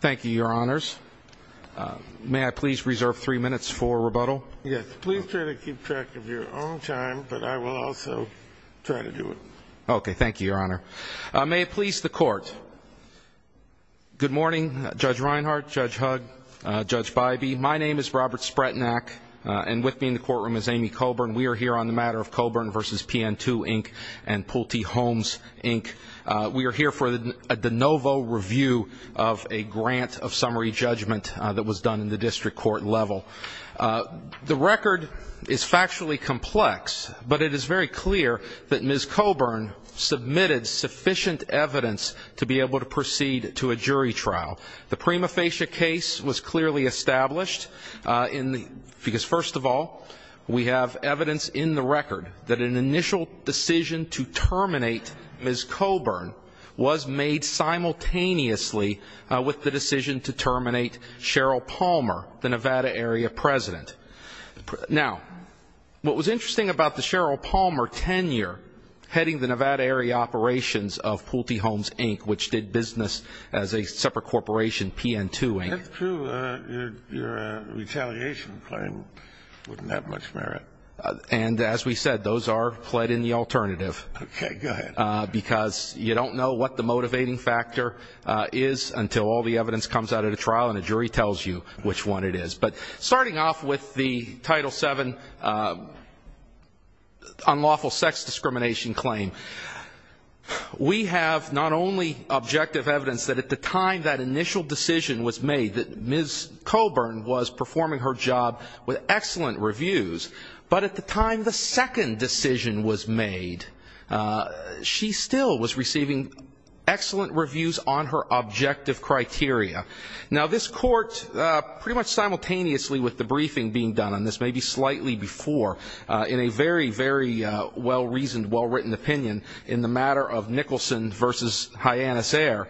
Thank you, Your Honors. May I please reserve three minutes for rebuttal? Yes. Please try to keep track of your own time, but I will also try to do it. Okay. Thank you, Your Honor. May it please the Court. Good morning, Judge Reinhart, Judge Hugg, Judge Bybee. My name is Robert Spretnak, and with me in the courtroom is Amy Coburn. We are here on the matter of Coburn v. PN II, Inc. and Pulte Homes, Inc. We are here for a de novo review of a grant of summary judgment that was done in the district court level. The record is factually complex, but it is very clear that Ms. Coburn submitted sufficient evidence to be able to proceed to a jury trial. The prima facie case was clearly established because, first of all, we have evidence in the record that the decision to terminate Ms. Coburn was made simultaneously with the decision to terminate Cheryl Palmer, the Nevada-area president. Now, what was interesting about the Cheryl Palmer tenure heading the Nevada-area operations of Pulte Homes, Inc., which did business as a separate corporation, PN II, Inc. That's true. Your retaliation claim wouldn't have much merit. And as we said, those are pled in the alternative. Okay, go ahead. Because you don't know what the motivating factor is until all the evidence comes out at a trial and a jury tells you which one it is. But starting off with the Title VII unlawful sex discrimination claim, we have not only objective evidence that at the time that initial decision was made that Ms. Coburn was performing her job with excellent reviews, but at the time the second decision was made, she still was receiving excellent reviews on her objective criteria. Now, this Court, pretty much simultaneously with the briefing being done on this, maybe slightly before, in a very, very well-reasoned, well-written opinion in the matter of Nicholson v. Hyannis Eyre,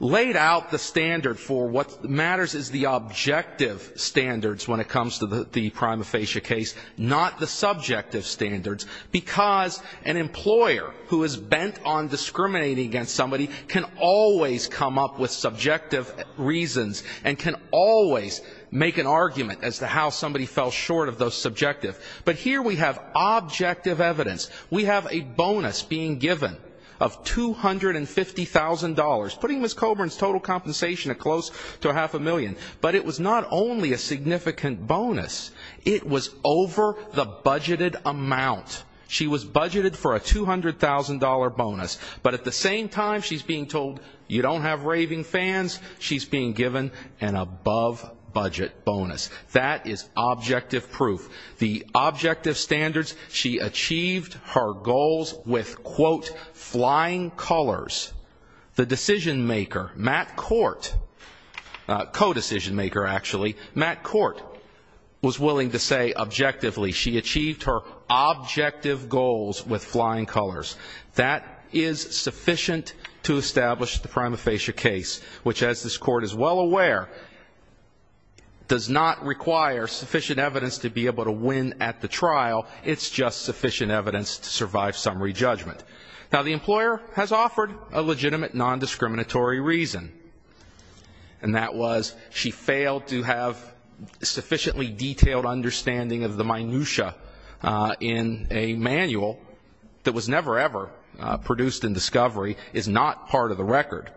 laid out the standard for what matters is the objective standards when it comes to the prima facie case, not the subjective standards, because an employer who is bent on discriminating against somebody can always come up with subjective reasons and can always make an argument as to how somebody fell short of those subjective. But here we have objective evidence. We have a bonus being given of $250,000, putting Ms. Coburn's total compensation at close to half a million, but it was not only a significant bonus, it was over the budgeted amount. She was budgeted for a $200,000 bonus, but at the same time she's being told you don't have raving fans, she's being given an above-budget bonus. That is objective proof. The objective standards, she achieved her goals with, quote, flying colors. The decision-maker, Matt Court, co-decision-maker, actually, Matt Court was willing to say objectively, she achieved her objective goals with flying colors. That is sufficient to establish the prima facie case, which, as this Court is well aware, does not require sufficient evidence to be able to win at the trial. It's just sufficient evidence to survive summary judgment. Now, the employer has offered a legitimate nondiscriminatory reason, and that was she failed to have sufficiently detailed understanding of the minutiae in a manual that was never, ever produced in discovery, is not part of the record.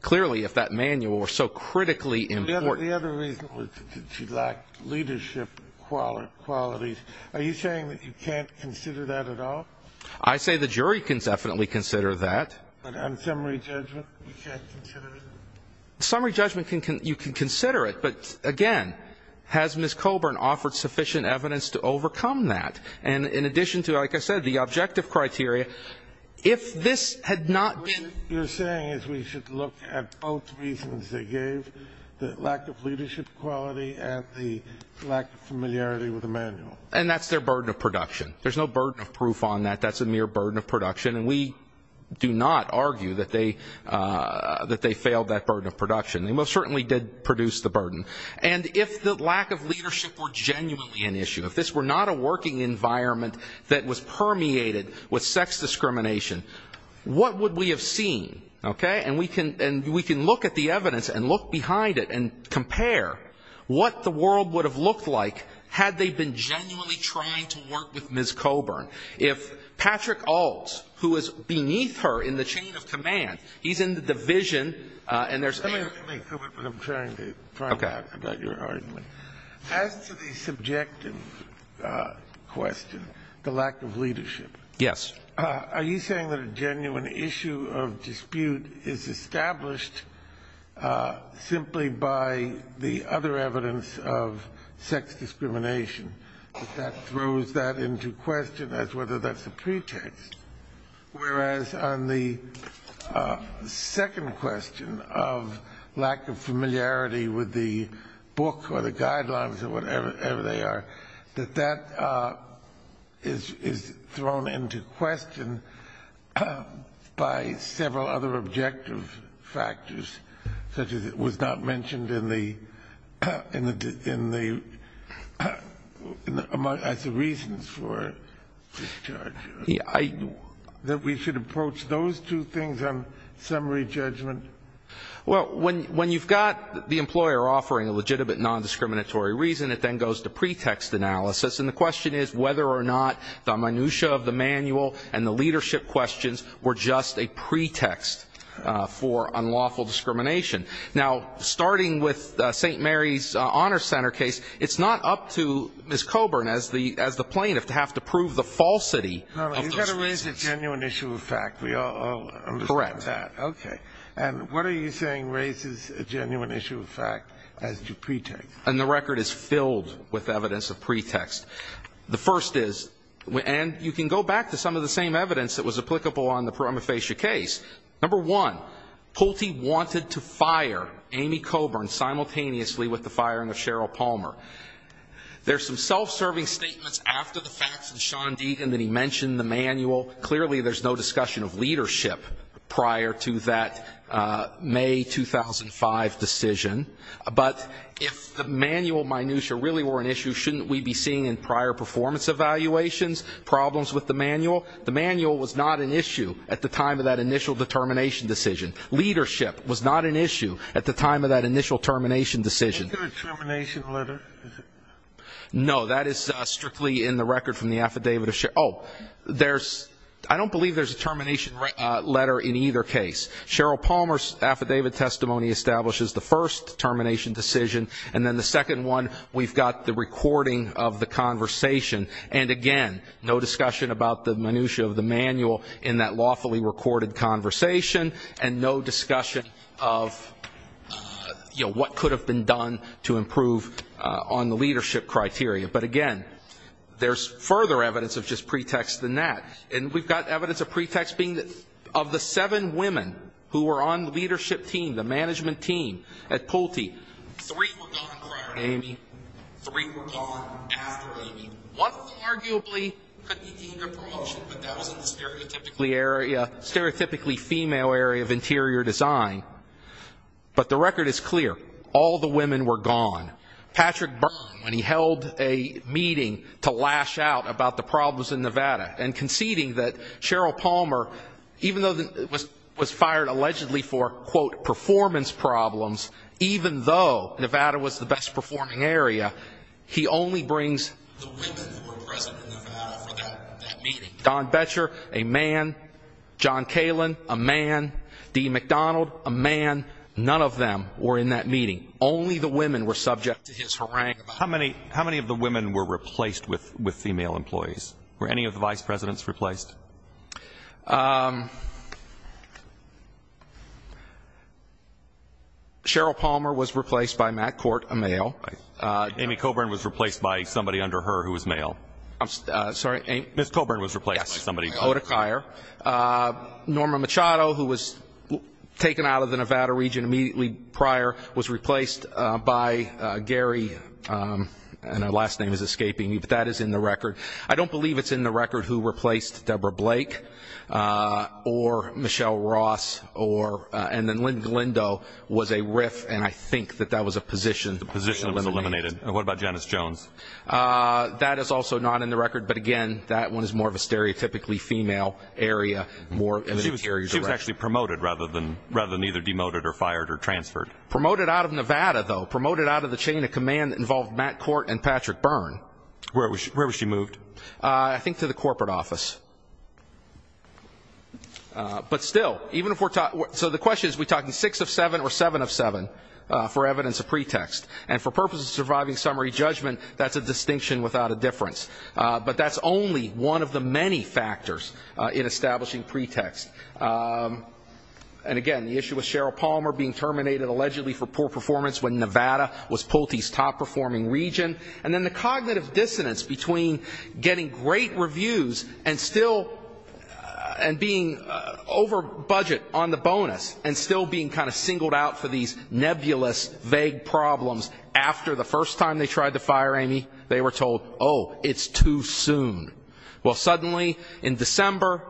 Clearly, if that manual were so critically important. The other reason was that she lacked leadership qualities. Are you saying that you can't consider that at all? I say the jury can definitely consider that. But on summary judgment, you can't consider it? Summary judgment, you can consider it, but again, has Ms. Colburn offered sufficient evidence to overcome that? And in addition to, like I said, the objective criteria, if this had not been... What you're saying is we should look at both reasons they gave, the lack of leadership quality and the lack of familiarity with the manual. And that's their burden of production. There's no burden of proof on that. That's a mere burden of production. And we do not argue that they failed that burden of production. They most certainly did produce the burden. And if the lack of leadership were genuinely an issue, if this were not a working environment that was permeated with sex discrimination, what would we have seen? Okay? And we can look at the evidence and look behind it and compare what the world would have looked like had they been genuinely trying to work with Ms. Colburn. If Patrick Ault, who is beneath her in the chain of command, he's in the division and there's... I'm trying to find out about your argument. As to the subjective question, the lack of leadership, are you saying that a genuine issue of dispute is established simply by the other evidence of sex discrimination that throws that into question as whether that's a pretext? Whereas on the second question of lack of familiarity with the book or the guidelines or whatever they are, that that is thrown into question by several other objective factors, such as it was not mentioned as the reasons for discharge. I... That we should approach those two things on summary judgment? Well, when you've got the employer offering a legitimate non-discriminatory reason, it then goes to pretext analysis. And the question is whether or not the minutiae of the manual and the leadership questions were just a pretext for unlawful discrimination. Now, starting with St. Mary's Honor Center case, it's not up to Ms. Colburn as the plaintiff to have to You've got to raise the genuine issue of fact. We all understand that. Okay. And what are you saying raises a genuine issue of fact as to pretext? And the record is filled with evidence of pretext. The first is, and you can go back to some of the same evidence that was applicable on the Prima Facie case. Number one, Pulte wanted to fire Amy Colburn simultaneously with the firing of Cheryl Palmer. There's some self-serving statements after the fact from Sean Deaton that he mentioned the manual. Clearly, there's no discussion of leadership prior to that May 2005 decision. But if the manual minutiae really were an issue, shouldn't we be seeing in prior performance evaluations problems with the manual? The manual was not an issue at the time of that initial determination decision. Leadership was not an issue at the time of that initial determination decision. Is there a termination letter? No, that is strictly in the record from the affidavit of Cheryl. Oh, there's, I don't believe there's a termination letter in either case. Cheryl Palmer's affidavit testimony establishes the first termination decision, and then the second one, we've got the recording of the conversation. And again, no discussion about the minutiae of the manual in that lawfully recorded conversation, and no discussion of, you know, what could have been done to improve on the leadership criteria. But again, there's further evidence of just pretext than that. And we've got evidence of pretext being that of the seven women who were on the leadership team, the management team at Pulte, three were gone prior to Amy, three were gone after Amy. One of them arguably could be dean of promotion, but that wasn't the stereotypically female area of interior design. But the record is clear. All the women were gone. Patrick Byrne, when he held a meeting to lash out about the problems in Nevada and conceding that Cheryl Palmer, even though it was fired allegedly for, quote, performance problems, even though Nevada was the best performing area, he only brings the women who were present in Nevada for that meeting. Don Betcher, a man. John Kalin, a man. Dee McDonald, a man. None of them were in that meeting. Only the women were subject to his haranguing. How many of the women were replaced with female employees? Were any of the vice presidents replaced? Cheryl Palmer was replaced by Matt Cort, a male. Amy Coburn was replaced by somebody under her name. Norma Machado, who was taken out of the Nevada region immediately prior, was replaced by Gary, and her last name is escaping me, but that is in the record. I don't believe it's in the record who replaced Debra Blake or Michelle Ross, and then Lynn Glendo was a RIF, and I think that was a position that was eliminated. What about Janice Jones? That is also not in the record, but again, that one is more of a stereotypically female area. She was actually promoted rather than either demoted or fired or transferred. Promoted out of Nevada, though. Promoted out of the chain of command that involved Matt Cort and Patrick Byrne. Where was she moved? I think to the corporate And for purposes of surviving summary judgment, that's a distinction without a difference. But that's only one of the many factors in establishing pretext. And again, the issue with Cheryl Palmer being terminated allegedly for poor performance when Nevada was Pulte's top-performing region, and then the cognitive dissonance between getting great reviews and still being over budget on the problems after the first time they tried to fire Amy, they were told, oh, it's too soon. Well, suddenly in December,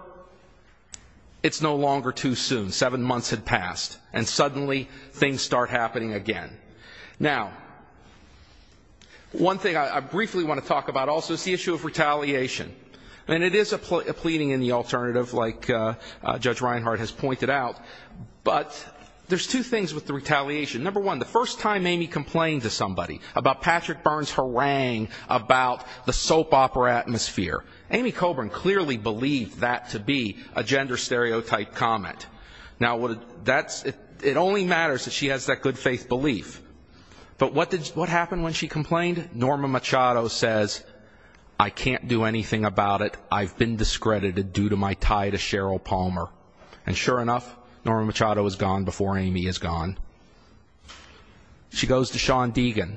it's no longer too soon. Seven months had passed, and suddenly things start happening again. Now, one thing I briefly want to talk about also is the issue of retaliation. And it is a pleading in the alternative, like Judge Reinhart has pointed out, but there's two with the retaliation. Number one, the first time Amy complained to somebody about Patrick Byrne's harangue about the soap opera atmosphere, Amy Coburn clearly believed that to be a gender stereotype comment. Now, it only matters that she has that good faith belief. But what happened when she complained? Norma Machado says, I can't do anything about it. I've been discredited due to my tie to Cheryl Palmer. And sure enough, Norma Machado is gone before Amy is gone. She goes to Sean Deegan,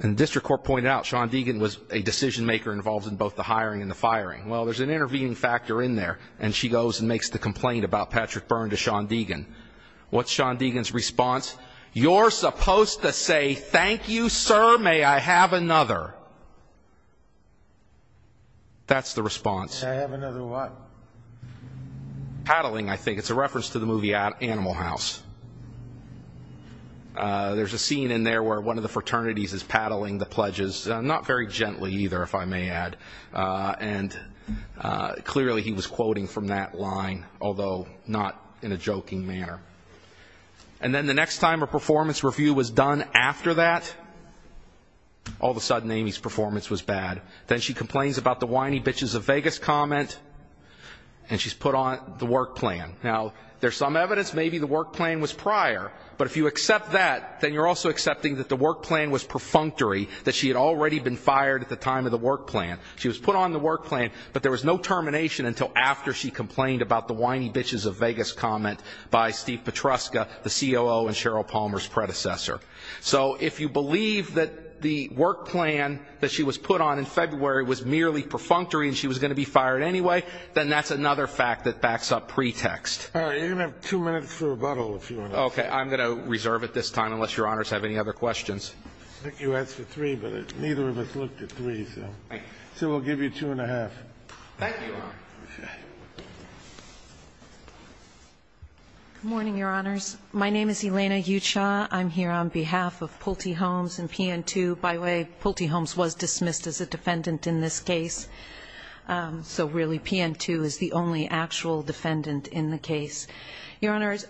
and the district court pointed out Sean Deegan was a decision-maker involved in both the hiring and the firing. Well, there's an intervening factor in there, and she goes and makes the complaint about Patrick Byrne to Sean Deegan. What's Sean Deegan's response? You're supposed to say, thank you, sir, may I have another. That's the response. May I have another what? Paddling, I think. It's a reference to the movie Animal House. There's a scene in there where one of the fraternities is paddling the pledges, not very gently either, if I may add. And clearly, he was quoting from that line, although not in a joking manner. And then the next time a performance review was done after that, all of a sudden, Amy's performance was bad. Then she complains about the whiny bitches of Vegas comment, and she's put on the work plan. Now, there's some evidence maybe the work plan was prior, but if you accept that, then you're also accepting that the work plan was perfunctory, that she had already been fired at the time of the work plan. She was put on the work plan, but there was no termination until after she complained about the whiny bitches of Vegas comment by Steve Petruska, the COO and Cheryl Palmer's predecessor. So if you believe that the work plan that she was put on in February was merely perfunctory and she was going to be fired anyway, then that's another fact that backs up pretext. All right. You're going to have two minutes for rebuttal, if you want to. Okay. I'm going to reserve it this time, unless Your Honors have any other questions. I think you asked for three, but neither of us looked at three. So we'll give you two and a half. Thank you, Your Honor. Good morning, Your Honors. My name is Elena Ucha. I'm here on behalf of Pulte Holmes and PN2. By the way, Pulte Holmes was dismissed as a defendant in this case. So really, PN2 is the only actual defendant in the case. Your Honors,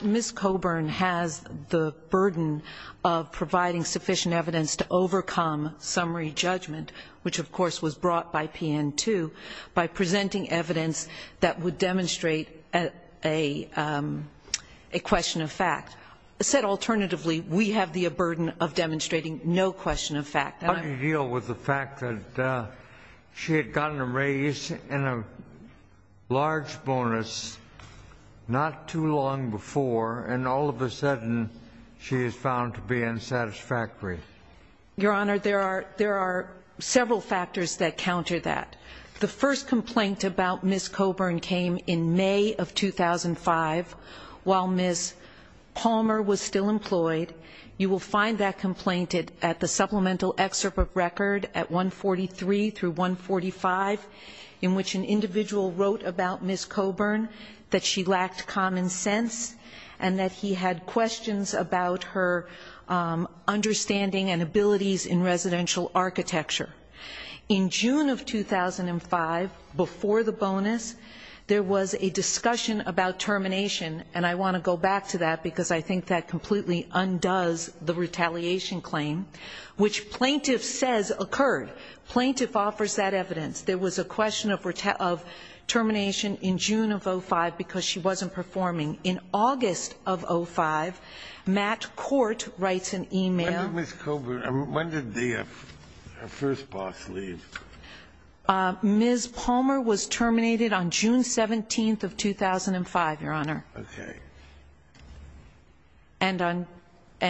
Ms. Coburn has the burden of providing sufficient evidence to overcome summary judgment, which of course was brought by PN2, by presenting evidence that would demonstrate a question of fact. Said alternatively, we have the burden of demonstrating no question of fact. How do you deal with the fact that she had gotten a raise and a large bonus not too long before and all of a sudden she is found to be unsatisfactory? Your Honor, there are several factors that counter that. The first complaint about Ms. Palmer was still employed. You will find that complaint at the supplemental excerpt of record at 143 through 145, in which an individual wrote about Ms. Coburn that she lacked common sense and that he had questions about her understanding and abilities in residential architecture. In June of 2005, before the bonus, there was a discussion about termination, and I want to go back to that because I think that completely undoes the retaliation claim, which plaintiff says occurred. Plaintiff offers that evidence. There was a question of termination in June of 2005 because she wasn't performing. In August of 2005, Matt Court writes an email. When did Ms. Coburn, when did the first boss leave? Ms. Palmer was terminated on June 17th of 2005, Your Honor. Okay. And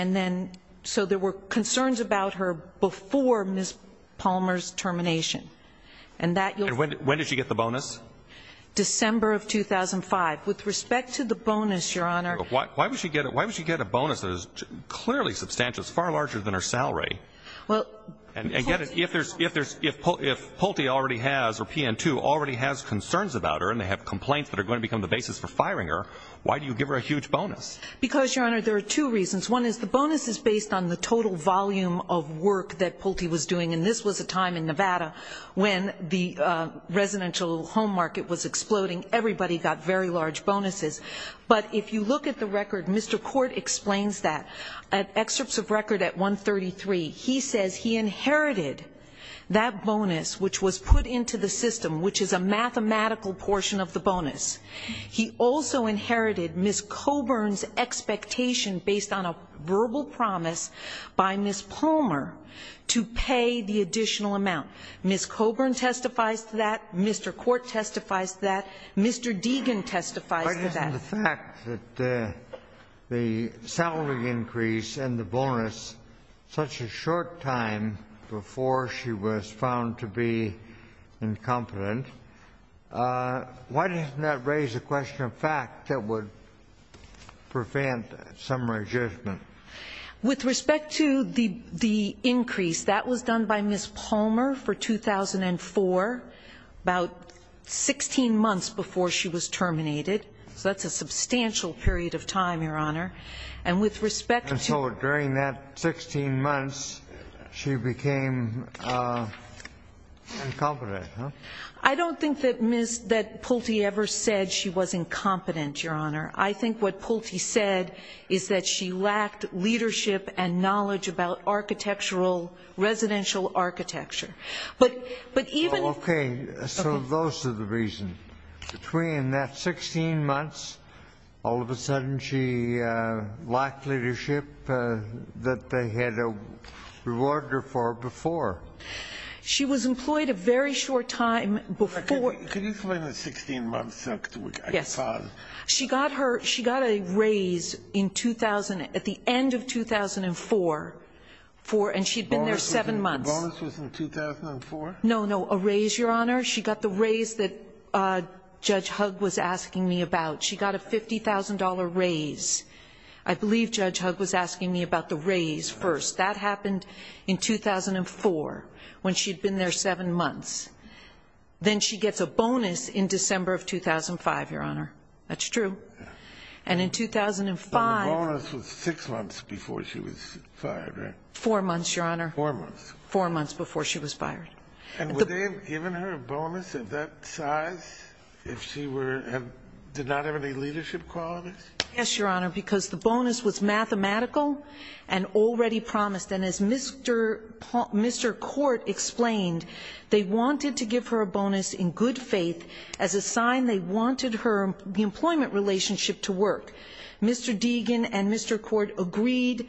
then, so there were concerns about her before Ms. Palmer's termination. And when did she get the bonus? December of 2005. With respect to the bonus, Your Honor. But why would she get a bonus that is clearly substantial? It's far larger than her salary. And again, if Pulte already has or PN2 already has concerns about her and they have complaints that are going to become the basis for firing her, why do you give her a huge bonus? Because, Your Honor, there are two reasons. One is the bonus is based on the total volume of work that Pulte was doing. And this was a time in Nevada when the residential home market was exploding. Everybody got very large bonuses. But if you look at the record, Mr. Court explains that at excerpts of record at 133, he says he inherited that bonus, which was put into the He also inherited Ms. Coburn's expectation based on a verbal promise by Ms. Palmer to pay the additional amount. Ms. Coburn testifies to that. Mr. Court testifies to that. Mr. Deegan testifies to that. Why isn't the fact that the salary increase and the bonus such a short time before she was found to be incompetent, why doesn't that raise a question of fact that would prevent some adjustment? With respect to the increase, that was done by Ms. Palmer for 2004, about 16 months before she was terminated. So that's a substantial period of time, Your Honor. And so during that 16 months, she became incompetent, huh? I don't think that Pulte ever said she was incompetent, Your Honor. I think what Pulte said is that she lacked leadership and knowledge about architectural residential architecture. But even Okay. So those are the reasons. Between that 16 months, all of a sudden she lacked leadership that they had rewarded her for before. She was employed a very short time before. Could you explain the 16 months? Yes. She got her she got a raise in 2000 at the end of 2004 for and she'd been there months. The bonus was in 2004? No, no. A raise, Your Honor. She got the raise that Judge Hugg was asking me about. She got a $50,000 raise. I believe Judge Hugg was asking me about the raise first. That happened in 2004 when she'd been there seven months. Then she gets a bonus in December of 2005, Your Honor. That's true. And in 2005. The bonus was six months before she was four months before she was fired. And would they have given her a bonus of that size if she were and did not have any leadership qualities? Yes, Your Honor. Because the bonus was mathematical and already promised. And as Mr. Mr. Court explained, they wanted to give her a bonus in good faith as a sign they wanted her employment relationship to work. Mr. Deegan and Mr. Court agreed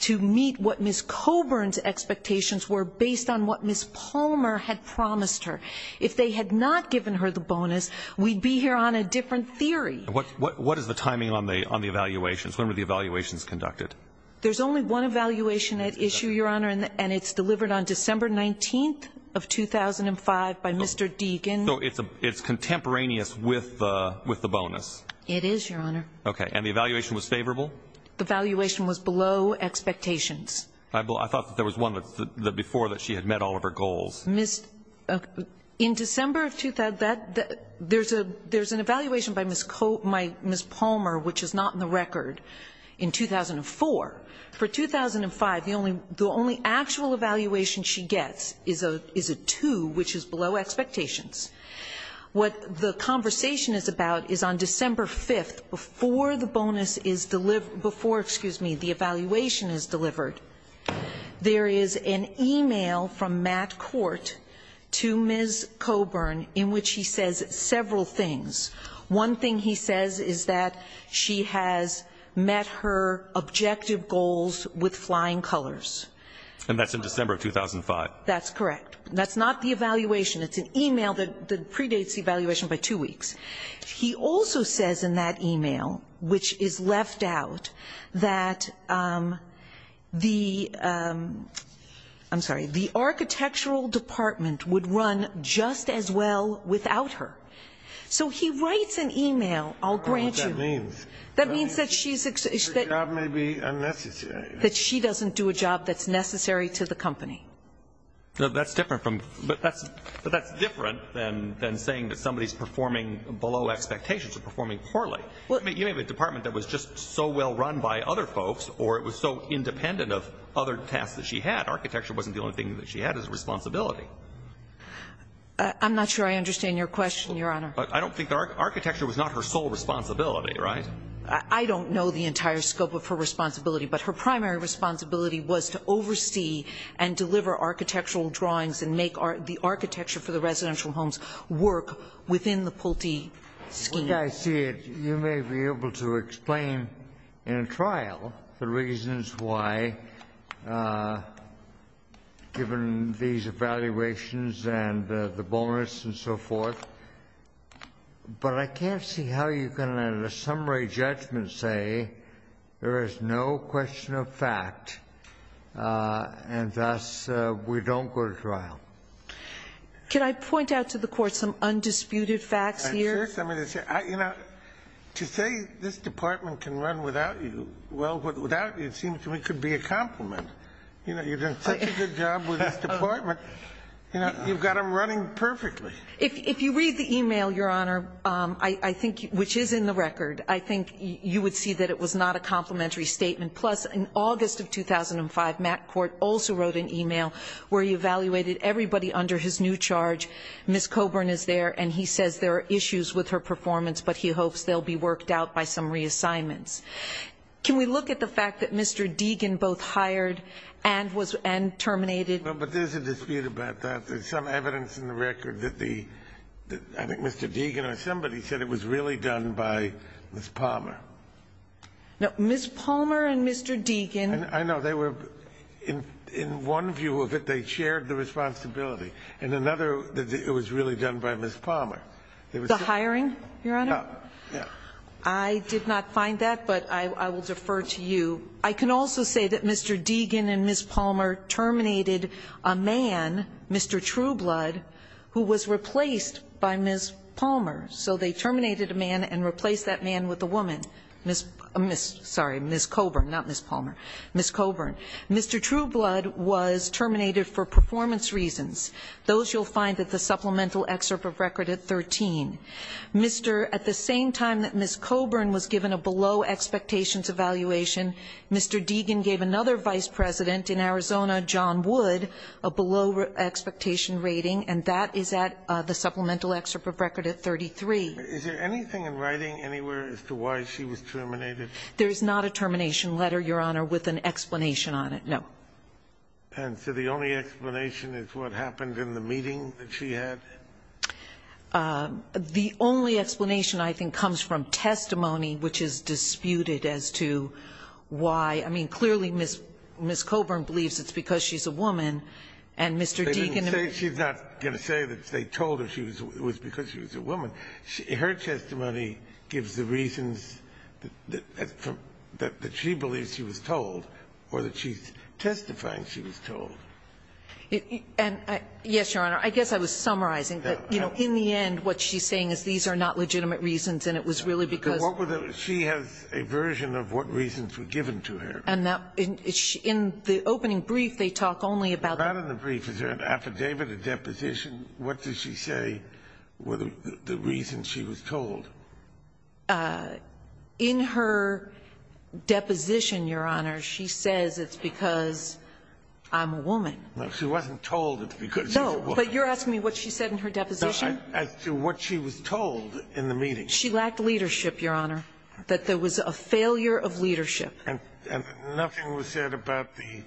to meet what Ms. Coburn's expectations were based on what Ms. Palmer had promised her. If they had not given her the bonus, we'd be here on a different theory. What what is the timing on the on the evaluations? When were the evaluations conducted? There's only one evaluation at issue, Your Honor. And it's delivered on December 19th of 2005 by Mr. Deegan. So it's a it's contemporaneous with the with the bonus. It is, Your Honor. Okay. And the evaluation was favorable. The valuation was below expectations. I thought there was one before that she had met all of her goals. Ms. In December of 2000, there's a there's an evaluation by Ms. Palmer, which is not in the record in 2004. For 2005, the only the only actual evaluation she gets is a is a two, which is below expectations. What the conversation is about is on December 5th before the bonus is delivered before excuse me, the evaluation is delivered. There is an email from Matt Court to Ms. Coburn in which he says several things. One thing he says is that she has met her objective goals with flying colors. And that's in December of 2005. That's correct. That's not the evaluation. It's an email that predates the evaluation by two weeks. He also says in that email, which is left out, that the I'm sorry, the architectural department would run just as well without her. So he writes an that's necessary to the company. No, that's different from but that's but that's different than than saying that somebody is performing below expectations or performing poorly. Well, you have a department that was just so well run by other folks or it was so independent of other tasks that she had. Architecture wasn't the only thing that she had as a responsibility. I'm not sure I understand your question, Your Honor. I don't think architecture was not her sole responsibility, right? I don't know the entire scope of her responsibility, but her primary responsibility was to oversee and deliver architectural drawings and make the architecture for the residential homes work within the Pulte scheme. The way I see it, you may be able to explain in a trial the reasons why, given these evaluations and the bonus and so forth, but I can't see how you can at a summary judgment say there is no question of fact and thus we don't go to trial. Can I point out to the court some undisputed facts here? You know, to say this department can run without you, well, without you, it seems to me could be a compliment. You know, you've done such a good job with this department. You know, you've got him running perfectly. If you read the email, Your Honor, I think, which is in the record, I think you would see that it was not a complimentary statement. Plus, in August of 2005, Matt Court also wrote an email where he evaluated everybody under his new charge. Ms. Coburn is there, and he says there are issues with her performance, but he hopes they'll be worked out by some reassignments. Can we look at the fact that Mr. Deegan both hired and was and terminated? No, but there's a dispute about that. There's some evidence in the record that the I think Mr. Deegan or somebody said it was really done by Ms. Palmer. No, Ms. Palmer and Mr. Deegan. I know they were in one view of it, they shared the responsibility. And another, it was really done by Ms. Palmer. The hiring, Your Honor? Yeah. I did not find that, but I will defer to you. I can also say that Mr. Deegan and Ms. Palmer terminated a man, Mr. Trueblood, who was replaced by Ms. Palmer. So they terminated a man and replaced that man with a woman. Sorry, Ms. Coburn, not Ms. Palmer. Ms. Coburn. Mr. Trueblood was terminated for performance reasons. Those you'll find at the supplemental excerpt of record at 13. At the same time that Ms. Coburn was given a below expectations evaluation, Mr. Deegan gave another vice president in Arizona, John Wood, a below expectation rating, and that is at the supplemental excerpt of record at 33. Is there anything in writing anywhere as to why she was terminated? There is not a termination letter, Your Honor, with an explanation on it, no. And so the only explanation is what happened in the meeting that she had? The only explanation, I think, comes from testimony, which is disputed as to why. I mean, clearly, Ms. Coburn believes it's because she's a woman, and Mr. Deegan She's not going to say that they told her it was because she was a woman. Her testimony gives the reasons that she believes she was told or that she's testifying she was told. And, yes, Your Honor, I guess I was summarizing, but, you know, in the end, what she's saying is these are not legitimate reasons, and it was really because She has a version of what reasons were given to her. And in the opening brief, they talk only about Not in the brief. Is there an affidavit, a deposition? What does she say were the reasons she was told? Uh, in her deposition, Your Honor, she says it's because I'm a woman. No, she wasn't told it's because she's a woman. But you're asking me what she said in her deposition? As to what she was told in the meeting. She lacked leadership, Your Honor, that there was a failure of leadership. And nothing was said about the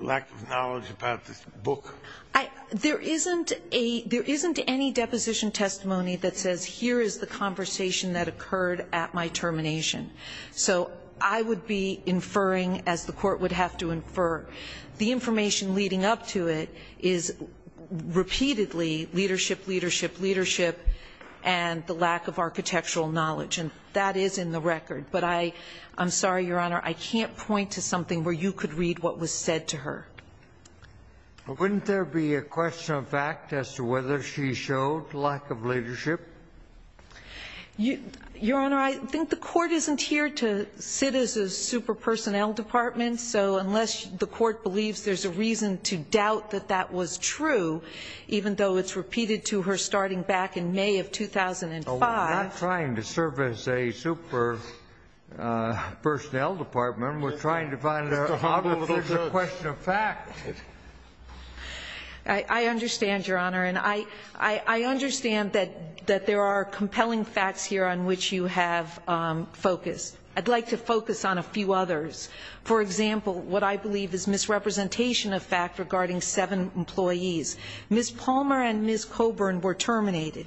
lack of knowledge about this book. There isn't a there isn't any deposition testimony that says here is the conversation that occurred at my termination. So I would be inferring as the court would have to infer the information leading up to it is repeatedly leadership, leadership, leadership, and the lack of architectural knowledge. And that is in the record. But I I'm sorry, Your Honor. I can't point to something where you could read what was said to her. But wouldn't there be a question of fact as to whether she showed lack of leadership? You, Your Honor, I think the court isn't here to sit as a super personnel department. So unless the court believes there's a reason to doubt that that was true, even though it's repeated to her starting back in May of 2005. We're not trying to serve as a super personnel department. We're trying to find a question of fact. I understand, Your Honor, and I I understand that that there are compelling facts here on which you have focus. I'd like to focus on a few others. For example, what I believe is misrepresentation of fact regarding seven employees. Miss Palmer and Miss Coburn were terminated.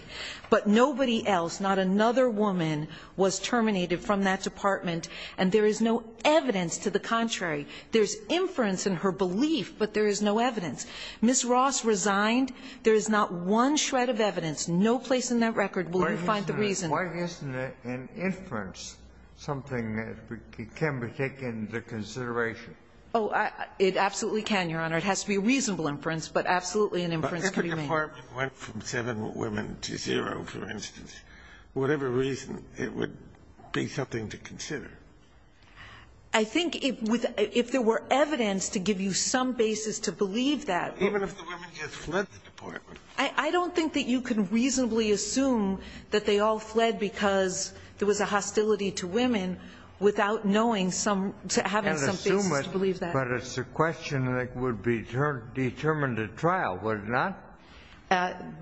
But nobody else, not another woman was terminated from that department. And there is no evidence to the contrary. There's inference in her belief, but there is no evidence. Miss Ross resigned. There is not one shred of evidence, no place in that record will you find the reason. Why isn't an inference something that can be taken into consideration? Oh, it absolutely can, Your Honor. It has to be a reasonable inference, but absolutely an inference can be made. But if a department went from seven women to zero, for instance, whatever reason, it would be something to consider. I think if there were evidence to give you some basis to believe that. Even if the women just fled the department. I don't think that you can reasonably assume that they all fled because there was a hostility to women without knowing some, having some basis to believe that. But it's a question that would be determined at trial, would it not?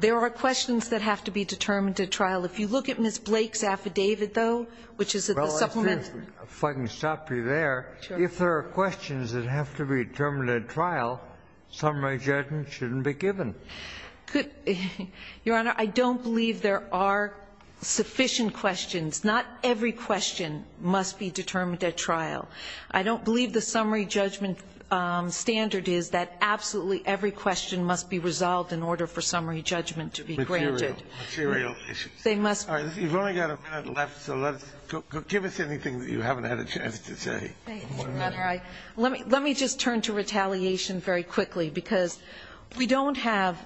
There are questions that have to be determined at trial. If you look at Miss Blake's affidavit, though, which is a supplement. If I can stop you there. If there are questions that have to be determined at trial, summary judgment shouldn't be given. Your Honor, I don't believe there are sufficient questions. Not every question must be determined at trial. I don't believe the summary judgment standard is that absolutely every question must be resolved in order for summary judgment to be granted. Material issues. They must. You've only got a minute left, so give us anything that you haven't had a chance to say. Let me just turn to retaliation very quickly because we don't have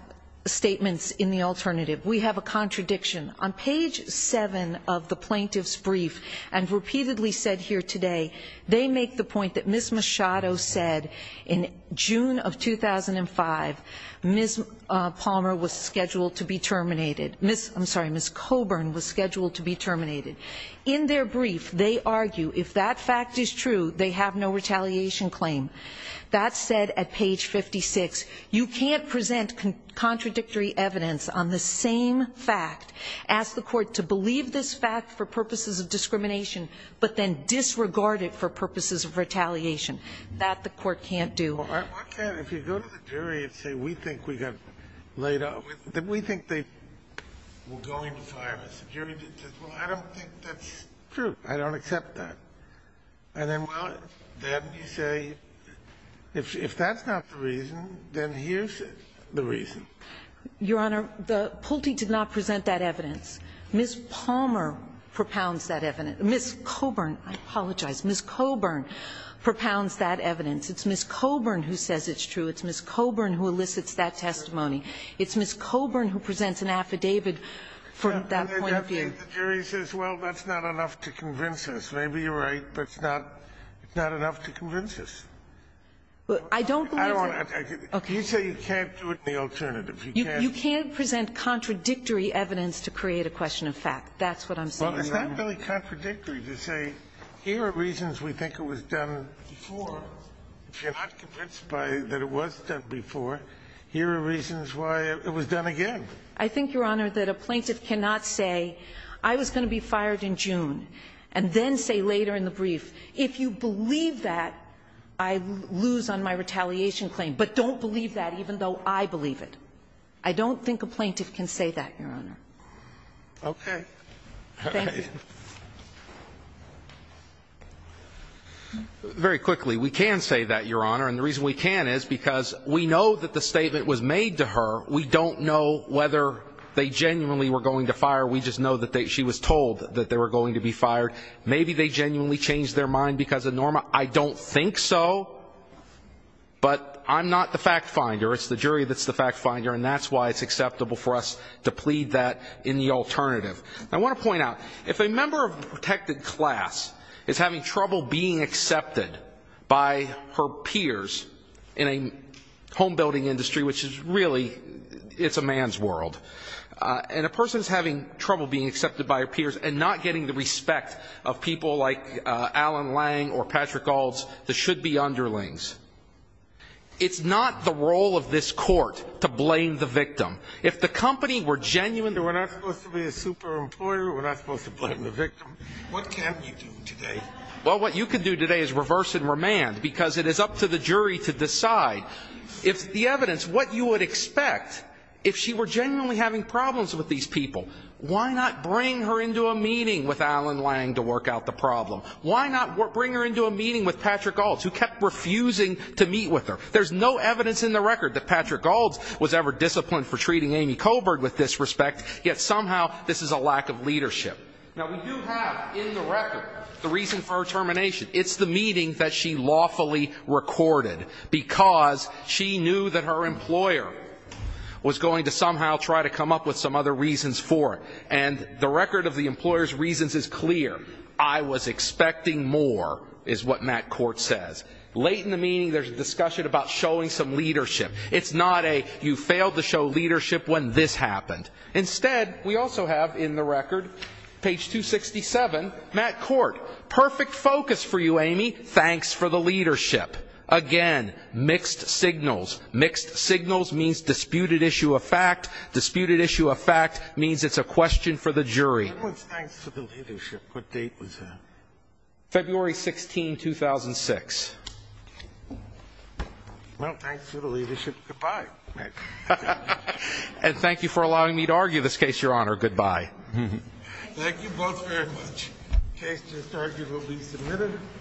statements in the alternative. We have a contradiction. On page seven of the plaintiff's brief and repeatedly said here today, they make the point that Miss Machado said in June of 2005, Miss Palmer was scheduled to be terminated. Miss, I'm sorry, Miss Coburn was scheduled to be terminated. In their brief, they argue if that fact is true, they have no retaliation claim. That said, at page 56, you can't present contradictory evidence on the same fact, ask the court to believe this fact for purposes of discrimination, but then disregard it for purposes of retaliation. That the court can't do. I can't. If you go to the jury and say, we think we got laid off, we think they were going to fire us. The jury says, well, I don't think that's true. I don't accept that. And then, well, then you say, if that's not the reason, then here's the reason. Your Honor, Pulte did not present that evidence. Miss Palmer propounds that evidence. Miss Coburn, I apologize. Miss Coburn propounds that evidence. It's Miss Coburn who says it's true. It's Miss Coburn who elicits that testimony. It's Miss Coburn who presents an affidavit from that point of view. The jury says, well, that's not enough to convince us. Maybe you're right, but it's not enough to convince us. I don't believe it. You say you can't do it in the alternative. You can't present contradictory evidence to create a question of fact. That's what I'm saying. It's not really contradictory to say, here are reasons we think it was done before. If you're not convinced that it was done before, here are reasons why it was done again. I think, Your Honor, that a plaintiff cannot say, I was going to be fired in June, and then say later in the brief, if you believe that, I lose on my retaliation claim. But don't believe that, even though I believe it. I don't think a plaintiff can say that, Your Honor. Okay. Thank you. Very quickly, we can say that, Your Honor. And the reason we can is because we know that the statement was made to her. We don't know whether they genuinely were going to fire. We just know that she was told that they were going to be fired. Maybe they genuinely changed their mind because of Norma. I don't think so. But I'm not the fact finder. It's the jury that's the fact finder. And that's why it's acceptable for us to plead that in the alternative. I want to point out, if a member of a protected class is having trouble being accepted by her peers in a home building industry, which is really, it's a man's world. And a person is having trouble being accepted by her peers and not getting the respect of people like Alan Lang or Patrick Alds, the should-be underlings. It's not the role of this court to blame the victim. If the company were genuine. We're not supposed to be a super employer. We're not supposed to blame the victim. What can you do today? Well, what you can do today is reverse and remand, because it is up to the jury to decide. If the evidence, what you would expect, if she were genuinely having problems with these people, why not bring her into a meeting with Alan Lang to work out the problem? Why not bring her into a meeting with Patrick Alds, who kept refusing to meet with her? There's no evidence in the record that Patrick Alds was ever disciplined for treating Amy with disrespect, yet somehow this is a lack of leadership. Now, we do have in the record the reason for her termination. It's the meeting that she lawfully recorded because she knew that her employer was going to somehow try to come up with some other reasons for it. And the record of the employer's reasons is clear. I was expecting more, is what Matt Court says. Late in the meeting, there's a discussion about showing some leadership. It's not a, you failed to show leadership when this happened. Instead, we also have in the record, page 267, Matt Court. Perfect focus for you, Amy. Thanks for the leadership. Again, mixed signals. Mixed signals means disputed issue of fact. Disputed issue of fact means it's a question for the jury. When was thanks for the leadership? What date was that? February 16, 2006. Well, thanks for the leadership. Goodbye, Matt. And thank you for allowing me to argue this case, Your Honor. Goodbye. Thank you both very much. Case just arguably submitted.